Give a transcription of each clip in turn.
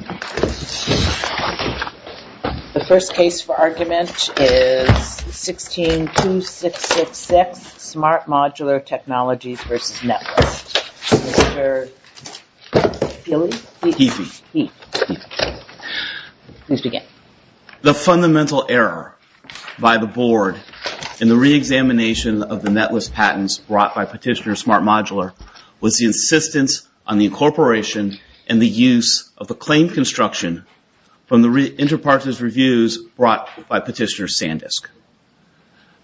The first case for argument is 16-2666, Smart Modular Technologies v. Netlist. Mr. Heafy, please begin. The fundamental error by the Board in the re-examination of the Netlist patents brought by Petitioner Smart Modular was the insistence on the incorporation and the use of the claimed construction from the inter-partners reviews brought by Petitioner Sandisk.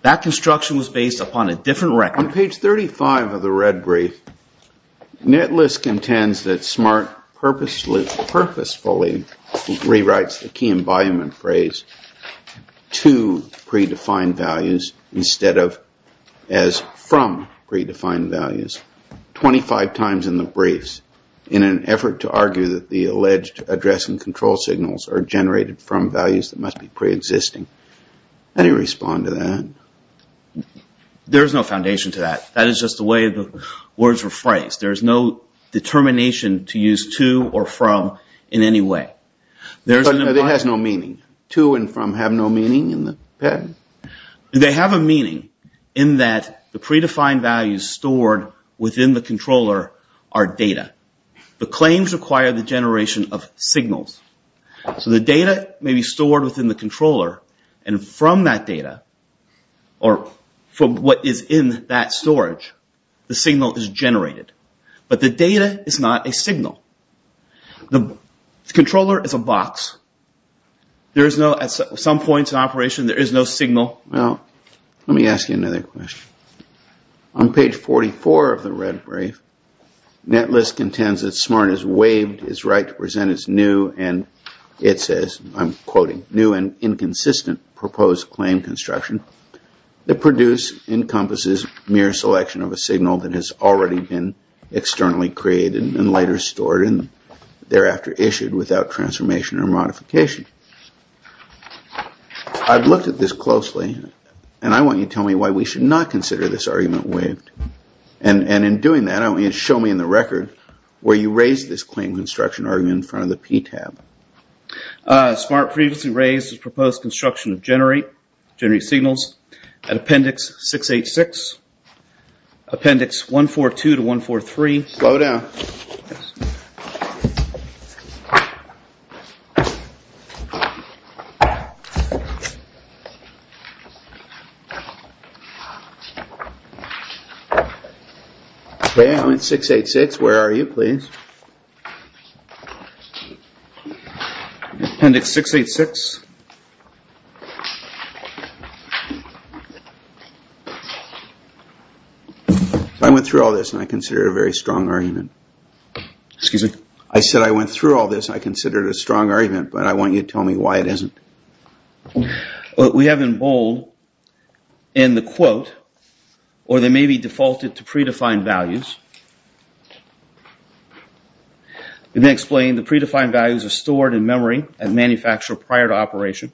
That construction was based upon a different record. On page 35 of the red brief, Netlist contends that Smart purposefully rewrites the key environment phrase to pre-defined values instead of as from pre-defined values 25 times in the briefs in an effort to argue that the alleged address and control signals are generated from values that must be pre-existing. How do you respond to that? There is no foundation to that. That is just the way the words were phrased. There is no determination to use to or from in any way. It has no meaning? To and from have no meaning in the patent? They have a meaning in that the pre-defined values stored within the controller are data. The claims require the generation of signals. So the data may be stored within the controller and from that data or from what is in that storage, the signal is generated. But the data is not a signal. The controller is a box. At some point in operation, there is no signal. Well, let me ask you another question. On page 44 of the red brief, Netlist contends that Smart has waived its right to present as new and it says, I'm quoting, new and inconsistent proposed claim construction that produce encompasses mere selection of a signal that has already been externally created and later stored and thereafter issued without transformation or modification. I've looked at this closely and I want you to tell me why we should not consider this argument waived. And in doing that, show me in the record where you raised this claim construction argument in front of the P tab. Smart previously raised its proposed construction of generate signals at appendix 686, appendix 142 to 143. Slow down. Yes. Well, it's six, eight, six. Where are you, please? Appendix 686. I went through all this and I consider it a very strong argument. Excuse me? I said I went through all this and I consider it a strong argument, but I want you to tell me why it isn't. What we have in bold in the quote, or they may be defaulted to predefined values, we may explain the predefined values are stored in memory at manufacturer prior to operation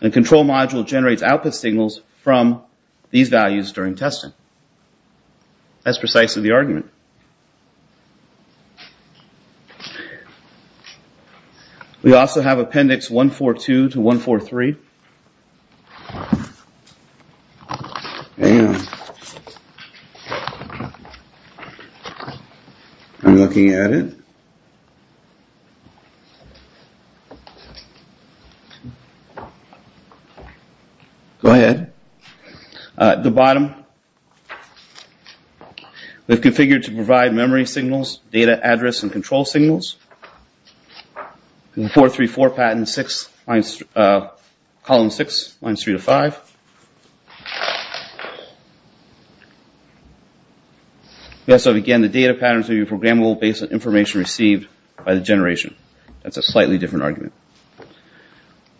and control module generates output signals from these values during testing. That's precisely the argument. We also have appendix 142 to 143. I'm looking at it. Go ahead. At the bottom, we've configured to provide memory signals, data address, and control signals. 434 pattern 6, column 6, lines 3 to 5. Again, the data patterns will be programmable based on information received by the generation. That's a slightly different argument.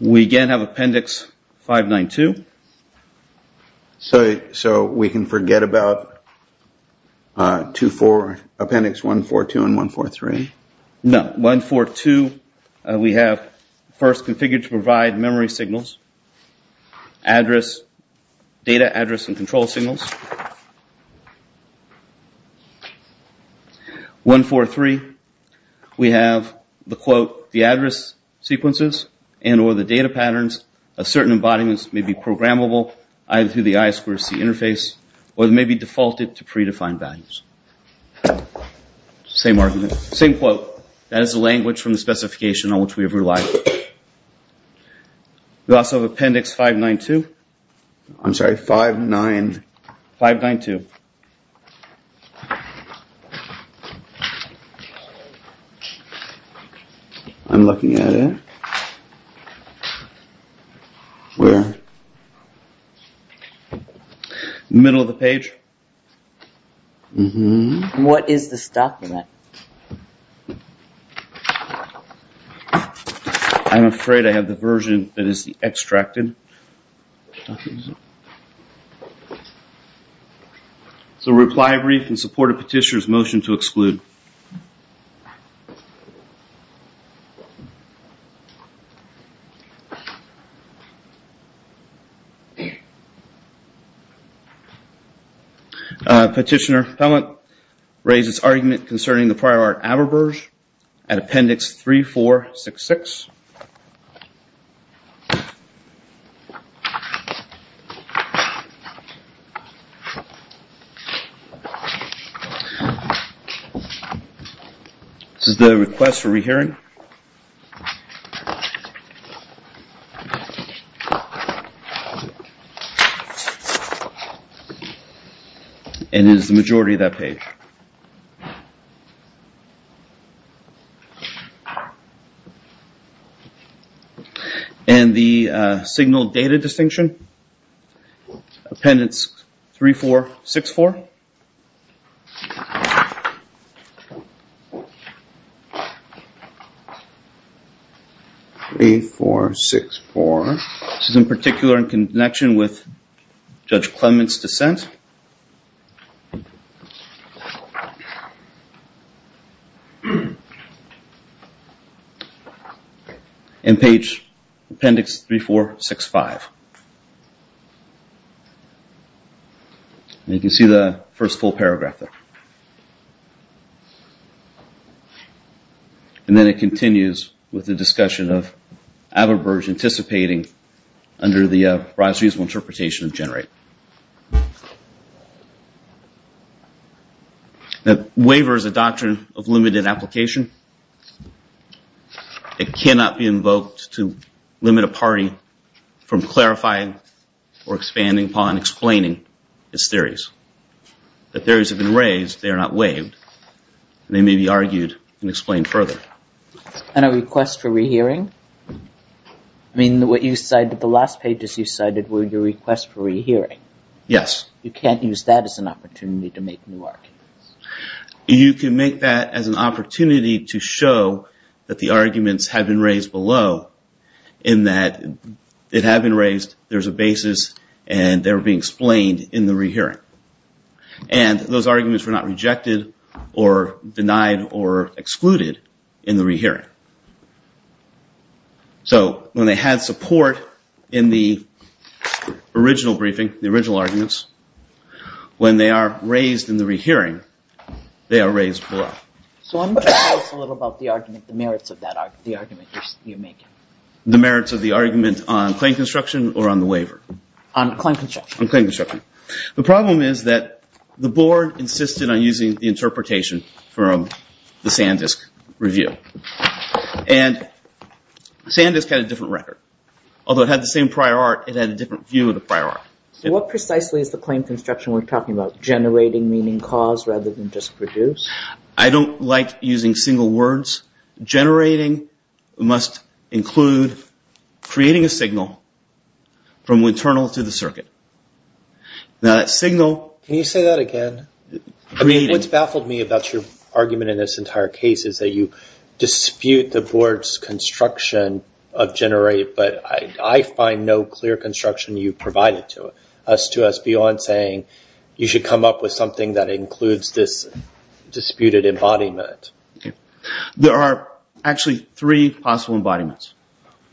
We again have appendix 592. So we can forget about appendix 142 and 143? No. 142, we have first configured to provide memory signals, data address and control signals. 143, we have the quote, the address sequences and or the data patterns of certain embodiments may be programmable either through the I2C interface or they may be defaulted to predefined values. Same argument. Same quote. That is the language from the specification on which we have relied. We also have appendix 592. I'm sorry, 592. I'm looking at it. Where? Middle of the page. What is the stock in that? I'm afraid I have the version that is the extracted. So reply brief in support of petitioner's motion to exclude. Petitioner Pellant raised his argument concerning the prior art Aberberge at appendix 3466. This is the request for rehearing. And it is the majority of that page. And the signal data distinction, appendix 3464. 3464. This is in particular in connection with Judge Clement's dissent. And page appendix 3465. You can see the first full paragraph there. And then it continues with the discussion of Aberberge anticipating under the reasonable interpretation of Generate. Waiver is a doctrine of limited application. It cannot be invoked to limit a party from clarifying or expanding upon explaining its theories. That theories have been raised, they are not waived, and they may be argued and explained further. And a request for rehearing? I mean, the last pages you cited were your request for rehearing. Yes. You can't use that as an opportunity to make new arguments. You can make that as an opportunity to show that the arguments have been raised below, in that it had been raised, there's a basis, and they're being explained in the rehearing. And those arguments were not rejected or denied or excluded in the rehearing. So when they had support in the original briefing, the original arguments, when they are raised in the rehearing, they are raised below. So tell us a little about the argument, the merits of the argument you're making. The merits of the argument on claim construction or on the waiver? On claim construction. On claim construction. The problem is that the board insisted on using the interpretation from the Sandisk review. And Sandisk had a different record. Although it had the same prior art, it had a different view of the prior art. So what precisely is the claim construction we're talking about? Generating meaning cause rather than just produce? I don't like using single words. Generating must include creating a signal from internal to the circuit. Now that signal... Can you say that again? What's baffled me about your argument in this entire case is that you dispute the board's construction of generate, but I find no clear construction you provided to us beyond saying you should come up with something that includes this disputed embodiment. There are actually three possible embodiments.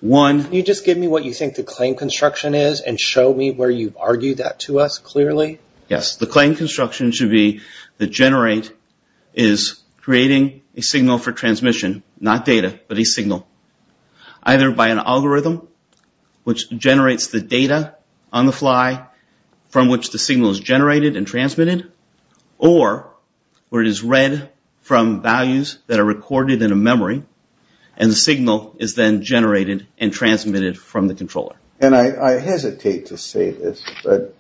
One... Can you just give me what you think the claim construction is and show me where you've argued that to us clearly? Yes. The claim construction should be the generate is creating a signal for transmission, not data, but a signal either by an algorithm which generates the data on the fly from which the signal is generated and transmitted, or where it is read from values that are recorded in a memory and the signal is then generated and transmitted from the controller. And I hesitate to say this, but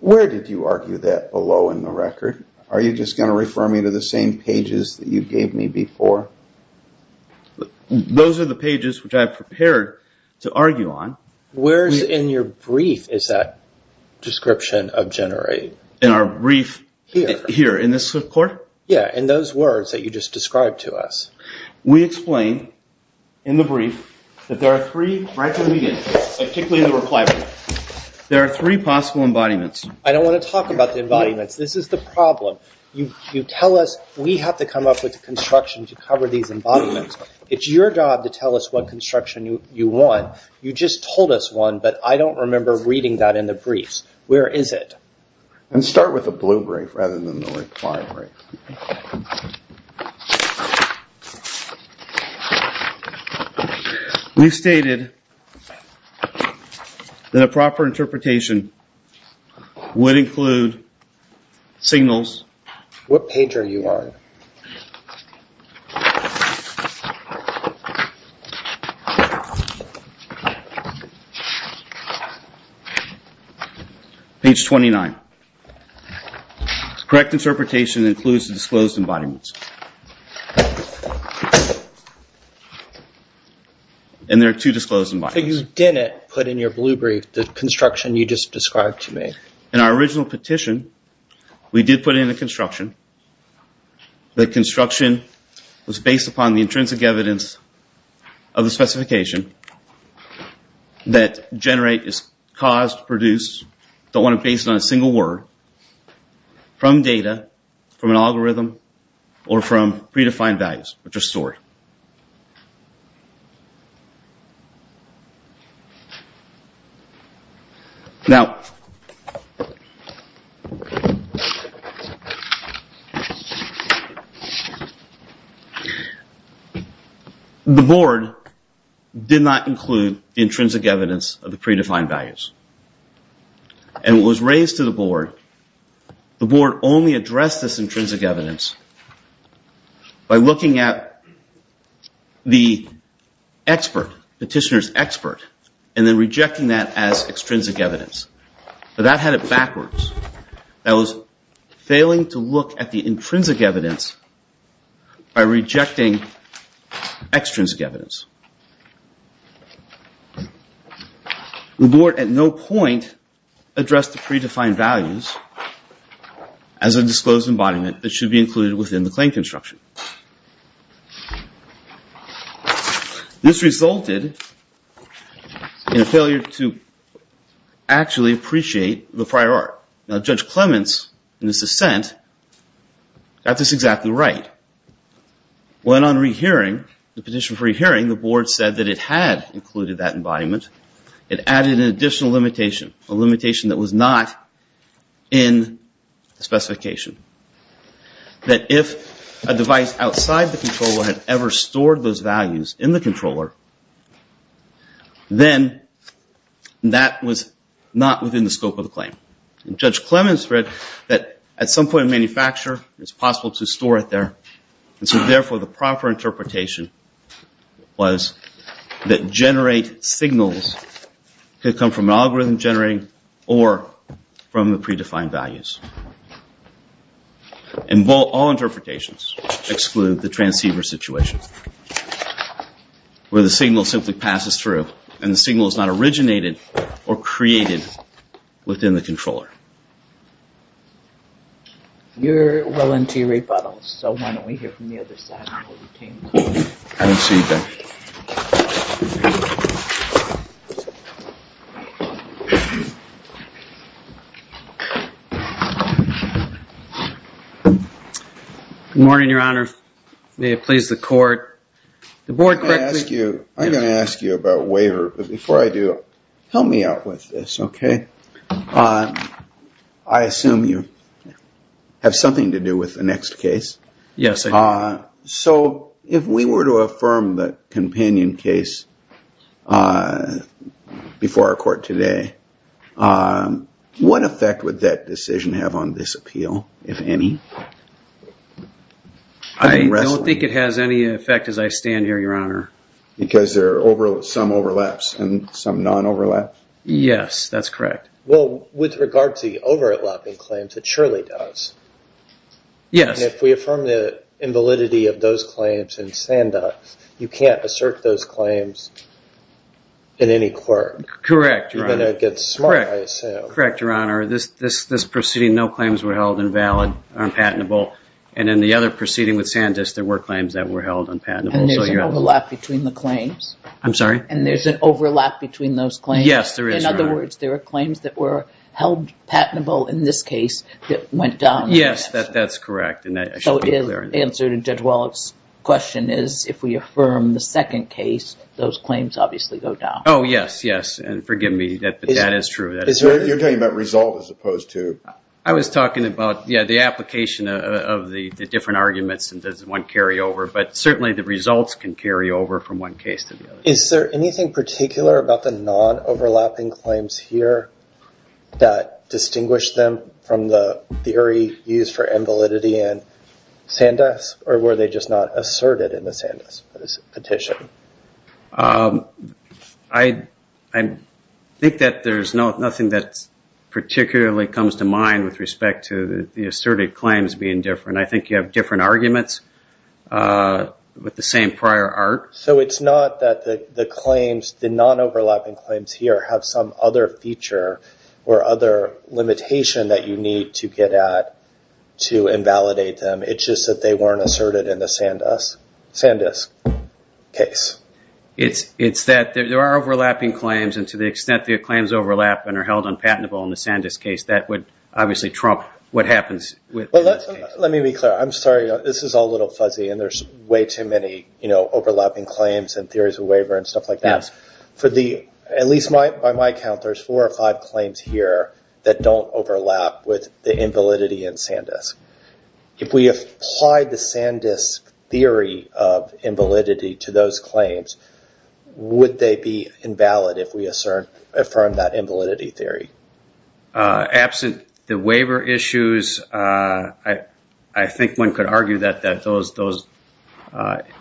where did you argue that below in the record? Are you just going to refer me to the same pages that you gave me before? Those are the pages which I have prepared to argue on. Where in your brief is that description of generate? In our brief here in this court? Yes, in those words that you just described to us. We explained in the brief that there are three possible embodiments. I don't want to talk about the embodiments. This is the problem. You tell us we have to come up with the construction to cover these embodiments. It's your job to tell us what construction you want. You just told us one, but I don't remember reading that in the briefs. Where is it? Start with the blue brief rather than the white brief. We stated that a proper interpretation would include signals. What page are you on? Page 29. Correct interpretation includes the disclosed embodiments. And there are two disclosed embodiments. But you didn't put in your blue brief the construction you just described to me. In our original petition, we did put in the construction. The construction was based upon the intrinsic evidence of the specification that generate is caused, produced, don't want to base it on a single word, from data, from an algorithm, or from predefined values, which are stored. Now, the board did not include the intrinsic evidence of the predefined values. And what was raised to the board, the board only addressed this intrinsic evidence by looking at the expert, petitioner's expert, and then rejecting that as extrinsic evidence. But that had it backwards. That was failing to look at the intrinsic evidence by rejecting extrinsic evidence. The board at no point addressed the predefined values as a disclosed embodiment that should be included within the claim construction. This resulted in a failure to actually appreciate the prior art. Now, Judge Clements, in his dissent, got this exactly right. When on rehearing, the petition for rehearing, the board said that it had included that embodiment. It added an additional limitation, a limitation that was not in the specification. That if a device outside the controller had ever stored those values in the controller, then that was not within the scope of the claim. And Judge Clements read that at some point in manufacture, it's possible to store it there. And so, therefore, the proper interpretation was that generate signals could come from an algorithm generating or from the predefined values. And all interpretations exclude the transceiver situation, where the signal simply passes through and the signal is not originated or created within the controller. You're willing to rebuttal, so why don't we hear from the other side? I don't see anything. Good morning, Your Honor. May it please the court. I'm going to ask you about waiver, but before I do, help me out with this, okay? I assume you have something to do with the next case? Yes, I do. So if we were to affirm the companion case before our court today, what effect would that decision have on this appeal, if any? I don't think it has any effect as I stand here, Your Honor. Because there are some overlaps and some non-overlaps? Yes, that's correct. Well, with regard to the overlapping claims, it surely does. Yes. If we affirm the invalidity of those claims in Sandus, you can't assert those claims in any court. Correct, Your Honor. You're going to get smart, I assume. Correct, Your Honor. This proceeding, no claims were held invalid, unpatentable. And in the other proceeding with Sandus, there were claims that were held unpatentable. I'm sorry? And there's an overlap between those claims? Yes, there is, Your Honor. In other words, there were claims that were held patentable in this case that went down? Yes, that's correct. And that should be clear. So the answer to Judge Wallach's question is if we affirm the second case, those claims obviously go down. Oh, yes, yes. And forgive me, but that is true. You're talking about result as opposed to? I was talking about, yeah, the application of the different arguments and does one carry over. But certainly the results can carry over from one case to the other. Is there anything particular about the non-overlapping claims here that distinguished them from the theory used for invalidity in Sandus, or were they just not asserted in the Sandus petition? I think that there's nothing that particularly comes to mind with respect to the asserted claims being different. I think you have different arguments with the same prior art. So it's not that the claims, the non-overlapping claims here, have some other feature or other limitation that you need to get at to invalidate them. It's just that they weren't asserted in the Sandus case. It's that there are overlapping claims, and to the extent the claims overlap and are held unpatentable in the Sandus case, that would obviously trump what happens with the case. Let me be clear. I'm sorry. This is all a little fuzzy, and there's way too many overlapping claims and theories of waiver and stuff like that. At least by my count, there's four or five claims here that don't overlap with the invalidity in Sandus. If we applied the Sandus theory of invalidity to those claims, would they be invalid if we affirmed that invalidity theory? Absent the waiver issues, I think one could argue that those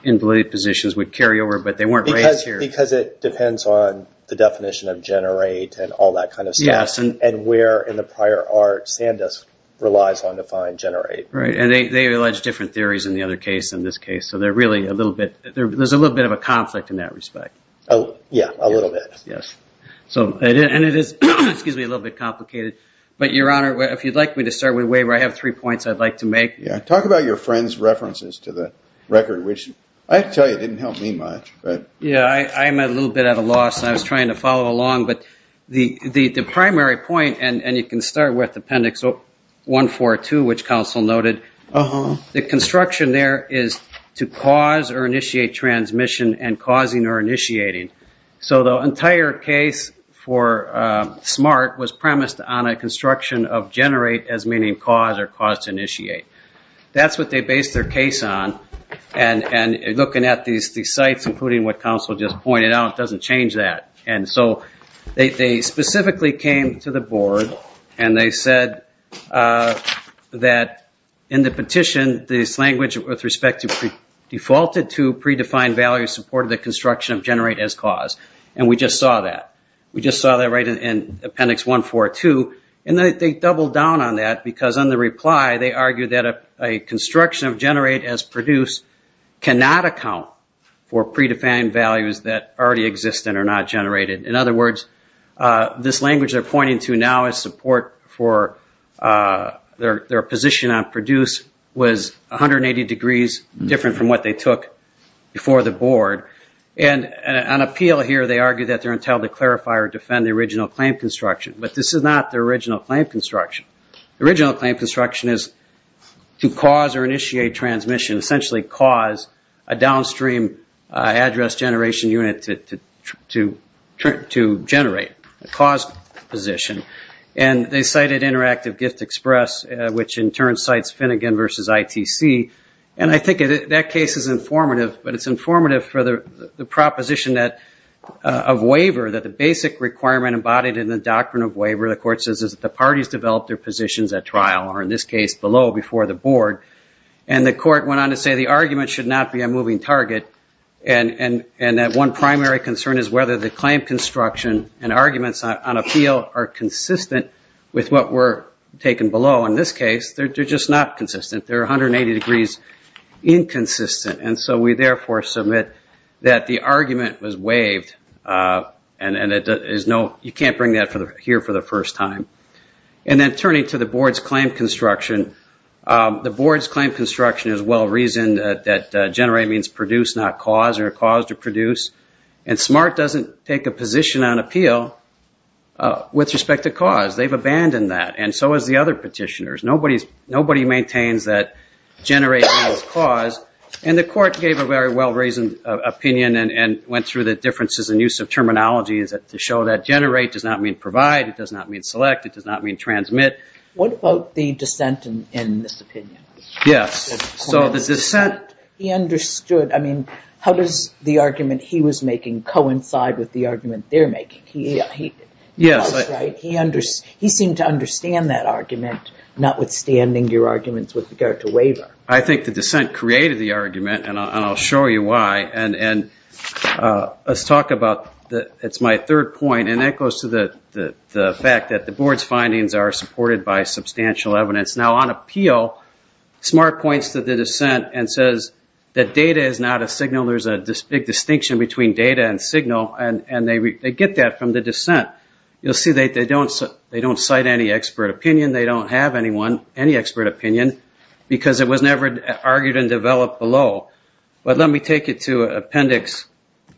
invalid positions would carry over, but they weren't raised here. Because it depends on the definition of generate and all that kind of stuff, and where in the prior art Sandus relies on defined generate. Right, and they allege different theories in the other case than this case, so there's a little bit of a conflict in that respect. Yeah, a little bit. And it is a little bit complicated, but, Your Honor, if you'd like me to start with waiver, I have three points I'd like to make. Talk about your friend's references to the record, which I have to tell you didn't help me much. Yeah, I'm a little bit at a loss, and I was trying to follow along, but the primary point, and you can start with Appendix 142, which counsel noted, the construction there is to cause or initiate transmission and causing or initiating. So the entire case for SMART was premised on a construction of generate as meaning cause or cause to initiate. That's what they based their case on, and looking at these sites, including what counsel just pointed out, doesn't change that. And so they specifically came to the board, and they said that in the petition, this language with respect to defaulted to predefined values supported the construction of generate as cause. And we just saw that. We just saw that right in Appendix 142. And they doubled down on that because on the reply, they argued that a construction of generate as produce cannot account for predefined values that already exist and are not generated. In other words, this language they're pointing to now as support for their position on produce was 180 degrees different from what they took before the board. And on appeal here, they argue that they're entitled to clarify or defend the original claim construction. But this is not the original claim construction. The original claim construction is to cause or initiate transmission, essentially cause a downstream address generation unit to generate, a cause position. And they cited Interactive Gift Express, which in turn cites Finnegan versus ITC, and I think that case is informative, but it's informative for the proposition of waiver, that the basic requirement embodied in the doctrine of waiver, the court says is that the parties develop their positions at trial, or in this case below before the board. And the court went on to say the argument should not be a moving target, and that one primary concern is whether the claim construction and arguments on appeal are consistent with what were taken below. In this case, they're just not consistent. They're 180 degrees inconsistent. And so we therefore submit that the argument was waived, and you can't bring that here for the first time. And then turning to the board's claim construction, the board's claim construction is well-reasoned, that generate means produce, not cause, or cause to produce. And SMART doesn't take a position on appeal with respect to cause. They've abandoned that, and so has the other petitioners. Nobody maintains that generate means cause. And the court gave a very well-reasoned opinion and went through the differences in use of terminology to show that generate does not mean provide, it does not mean select, it does not mean transmit. What about the dissent in this opinion? Yes. So the dissent... He understood. I mean, how does the argument he was making coincide with the argument they're making? Yes. He seemed to understand that argument, notwithstanding your arguments with regard to waiver. I think the dissent created the argument, and I'll show you why. And let's talk about my third point, and that goes to the fact that the board's findings are supported by substantial evidence. Now, on appeal, SMART points to the dissent and says that data is not a signal. There's a big distinction between data and signal, and they get that from the dissent. You'll see they don't cite any expert opinion, they don't have any expert opinion, because it was never argued and developed below. But let me take you to Appendix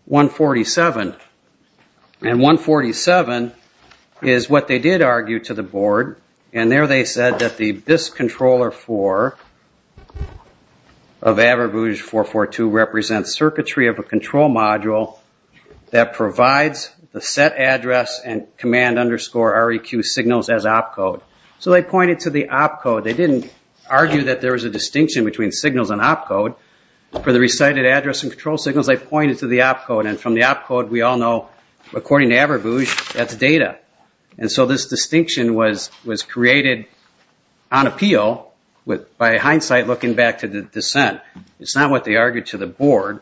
147. And 147 is what they did argue to the board, and there they said that this controller 4 of Averbooz 442 represents circuitry of a control module that provides the set address and command underscore REQ signals as opcode. So they pointed to the opcode. They didn't argue that there was a distinction between signals and opcode. For the recited address and control signals, they pointed to the opcode, and from the opcode we all know, according to Averbooz, that's data. And so this distinction was created on appeal by hindsight looking back to the dissent. It's not what they argued to the board.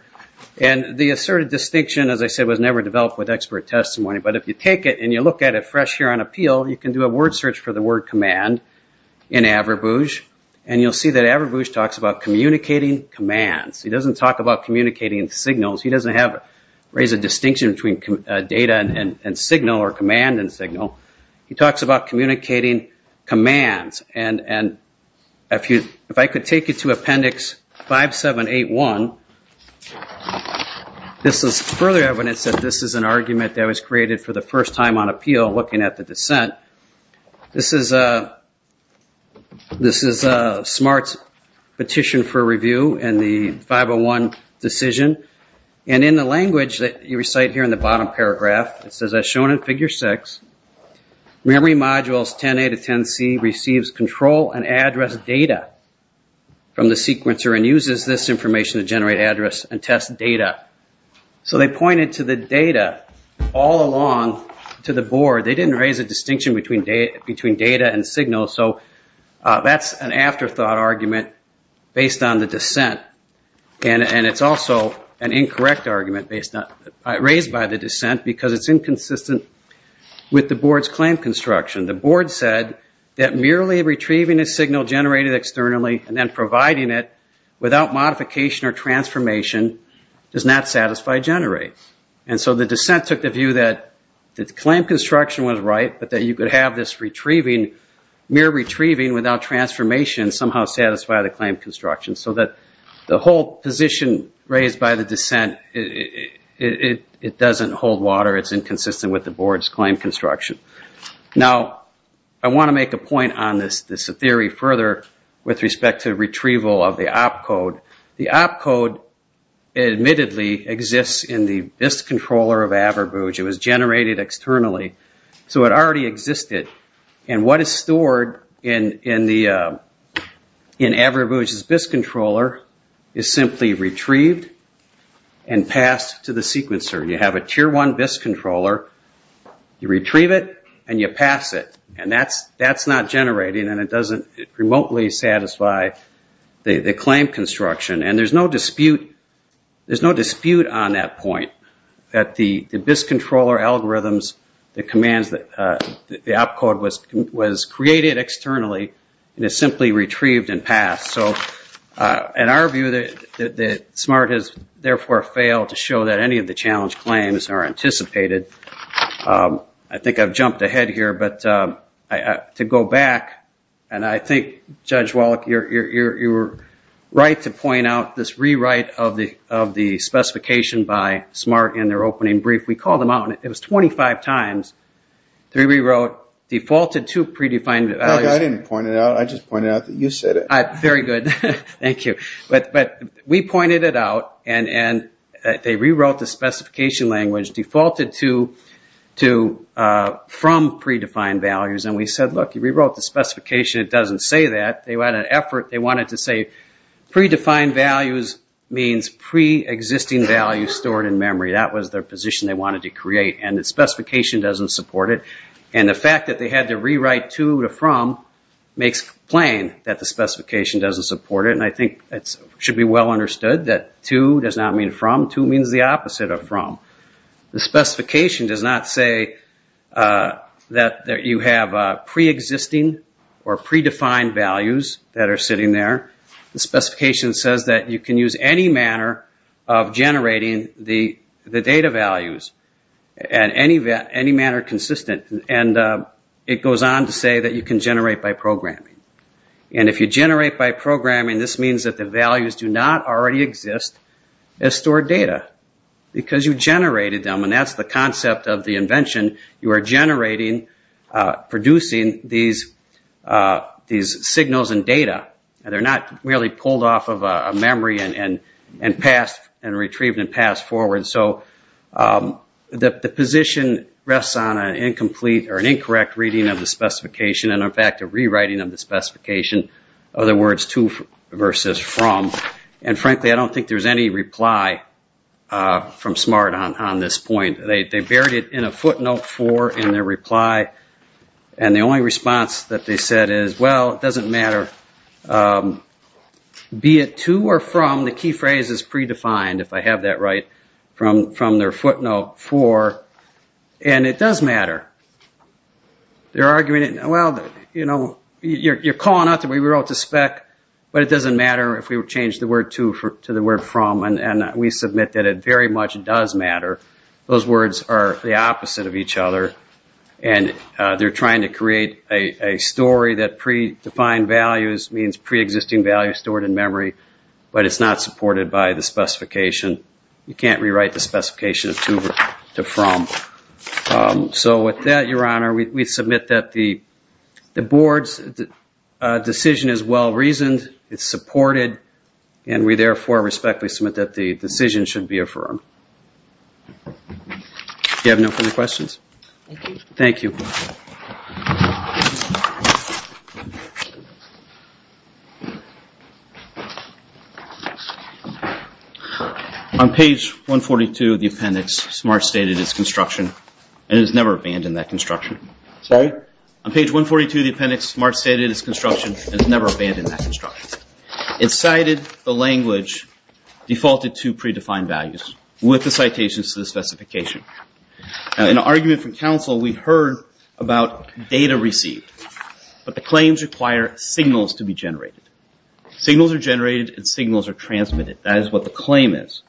And the asserted distinction, as I said, was never developed with expert testimony. But if you take it and you look at it fresh here on appeal, you can do a word search for the word command in Averbooz, and you'll see that Averbooz talks about communicating commands. He doesn't talk about communicating signals. He doesn't raise a distinction between data and signal or command and signal. He talks about communicating commands. And if I could take you to Appendix 5781, this is further evidence that this is an argument that was created for the first time on appeal, looking at the dissent. This is a smart petition for review in the 501 decision. And in the language that you recite here in the bottom paragraph, it says, as shown in Figure 6, memory modules 10A to 10C receives control and address data from the sequencer and uses this information to generate address and test data. So they pointed to the data all along to the board. They didn't raise a distinction between data and signal. So that's an afterthought argument based on the dissent. And it's also an incorrect argument raised by the dissent because it's inconsistent with the board's claim construction. The board said that merely retrieving a signal generated externally and then providing it without modification or transformation does not satisfy generate. And so the dissent took the view that the claim construction was right, but that you could have this mere retrieving without transformation somehow satisfy the claim construction, so that the whole position raised by the dissent, it doesn't hold water. It's inconsistent with the board's claim construction. Now, I want to make a point on this theory further with respect to retrieval of the op code. The op code admittedly exists in the BIS controller of Averbooz. It was generated externally, so it already existed. And what is stored in Averbooz's BIS controller is simply retrieved and passed to the sequencer. You have a Tier 1 BIS controller. You retrieve it, and you pass it. And that's not generating, and it doesn't remotely satisfy the claim construction. And there's no dispute on that point that the BIS controller algorithms, the commands, the op code was created externally and is simply retrieved and passed. So in our view, SMART has therefore failed to show that any of the challenge claims are anticipated. I think I've jumped ahead here, but to go back, and I think, Judge Wallach, you were right to point out this rewrite of the specification by SMART in their opening brief. We called them out, and it was 25 times. They rewrote, defaulted to predefined values. I didn't point it out. I just pointed out that you said it. Very good. Thank you. But we pointed it out, and they rewrote the specification language, defaulted from predefined values, and we said, look, you rewrote the specification. It doesn't say that. They had an effort. They wanted to say predefined values means pre-existing values stored in memory. That was their position they wanted to create, and the specification doesn't support it. And the fact that they had to rewrite to or from makes plain that the specification doesn't support it, and I think it should be well understood that to does not mean from. To means the opposite of from. The specification does not say that you have pre-existing or predefined values that are sitting there. The specification says that you can use any manner of generating the data values in any manner consistent, and it goes on to say that you can generate by programming. And if you generate by programming, this means that the values do not already exist as stored data because you generated them, and that's the concept of the invention. You are generating, producing these signals and data, and they're not really pulled off of a memory and passed and retrieved and passed forward. So the position rests on an incomplete or an incorrect reading of the specification and, in fact, a rewriting of the specification. In other words, to versus from. And, frankly, I don't think there's any reply from SMART on this point. They buried it in a footnote for in their reply, and the only response that they said is, well, it doesn't matter. Be it to or from, the key phrase is predefined, if I have that right, from their footnote for, and it does matter. They're arguing, well, you know, you're calling out the way we wrote the spec, but it doesn't matter if we change the word to, to the word from, and we submit that it very much does matter. Those words are the opposite of each other, and they're trying to create a story that predefined values means preexisting values stored in memory, but it's not supported by the specification. You can't rewrite the specification to from. So with that, Your Honor, we submit that the board's decision is well-reasoned, it's supported, and we therefore respectfully submit that the decision should be affirmed. Do you have no further questions? Thank you. On page 142 of the appendix, SMART stated it's construction, and it has never abandoned that construction. Sorry? On page 142 of the appendix, SMART stated it's construction, and it's never abandoned that construction. It cited the language defaulted to predefined values with the citations to the specification. In an argument from counsel, we heard about data received, but the claims require signals to be generated. Signals are generated and signals are transmitted. That is what the claim is.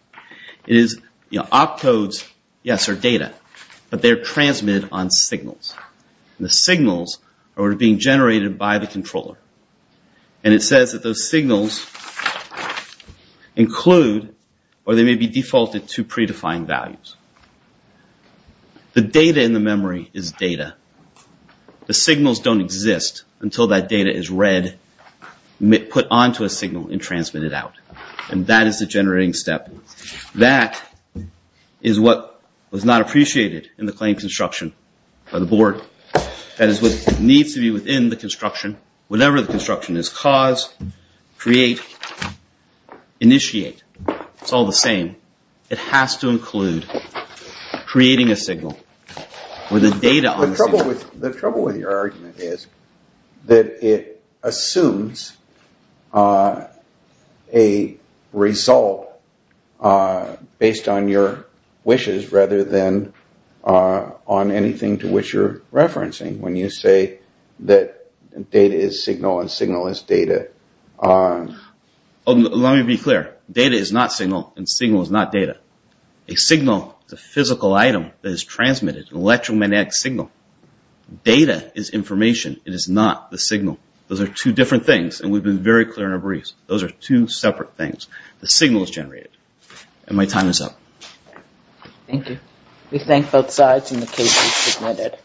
It is, you know, opcodes, yes, are data, but they're transmitted on signals. The signals are being generated by the controller, and it says that those signals include or they may be defaulted to predefined values. The data in the memory is data. The signals don't exist until that data is read, put onto a signal, and transmitted out, and that is the generating step. That is what was not appreciated in the claim construction by the board. That is what needs to be within the construction. Whatever the construction is, cause, create, initiate, it's all the same. It has to include creating a signal with the data on the signal. The trouble with your argument is that it assumes a result based on your wishes rather than on anything to which you're referencing. When you say that data is signal and signal is data. Let me be clear. Data is not signal and signal is not data. A signal is a physical item that is transmitted, an electromagnetic signal. Data is information. It is not the signal. Those are two different things, and we've been very clear in our briefs. Those are two separate things. The signal is generated, and my time is up. Thank you. We thank both sides in the case you submitted.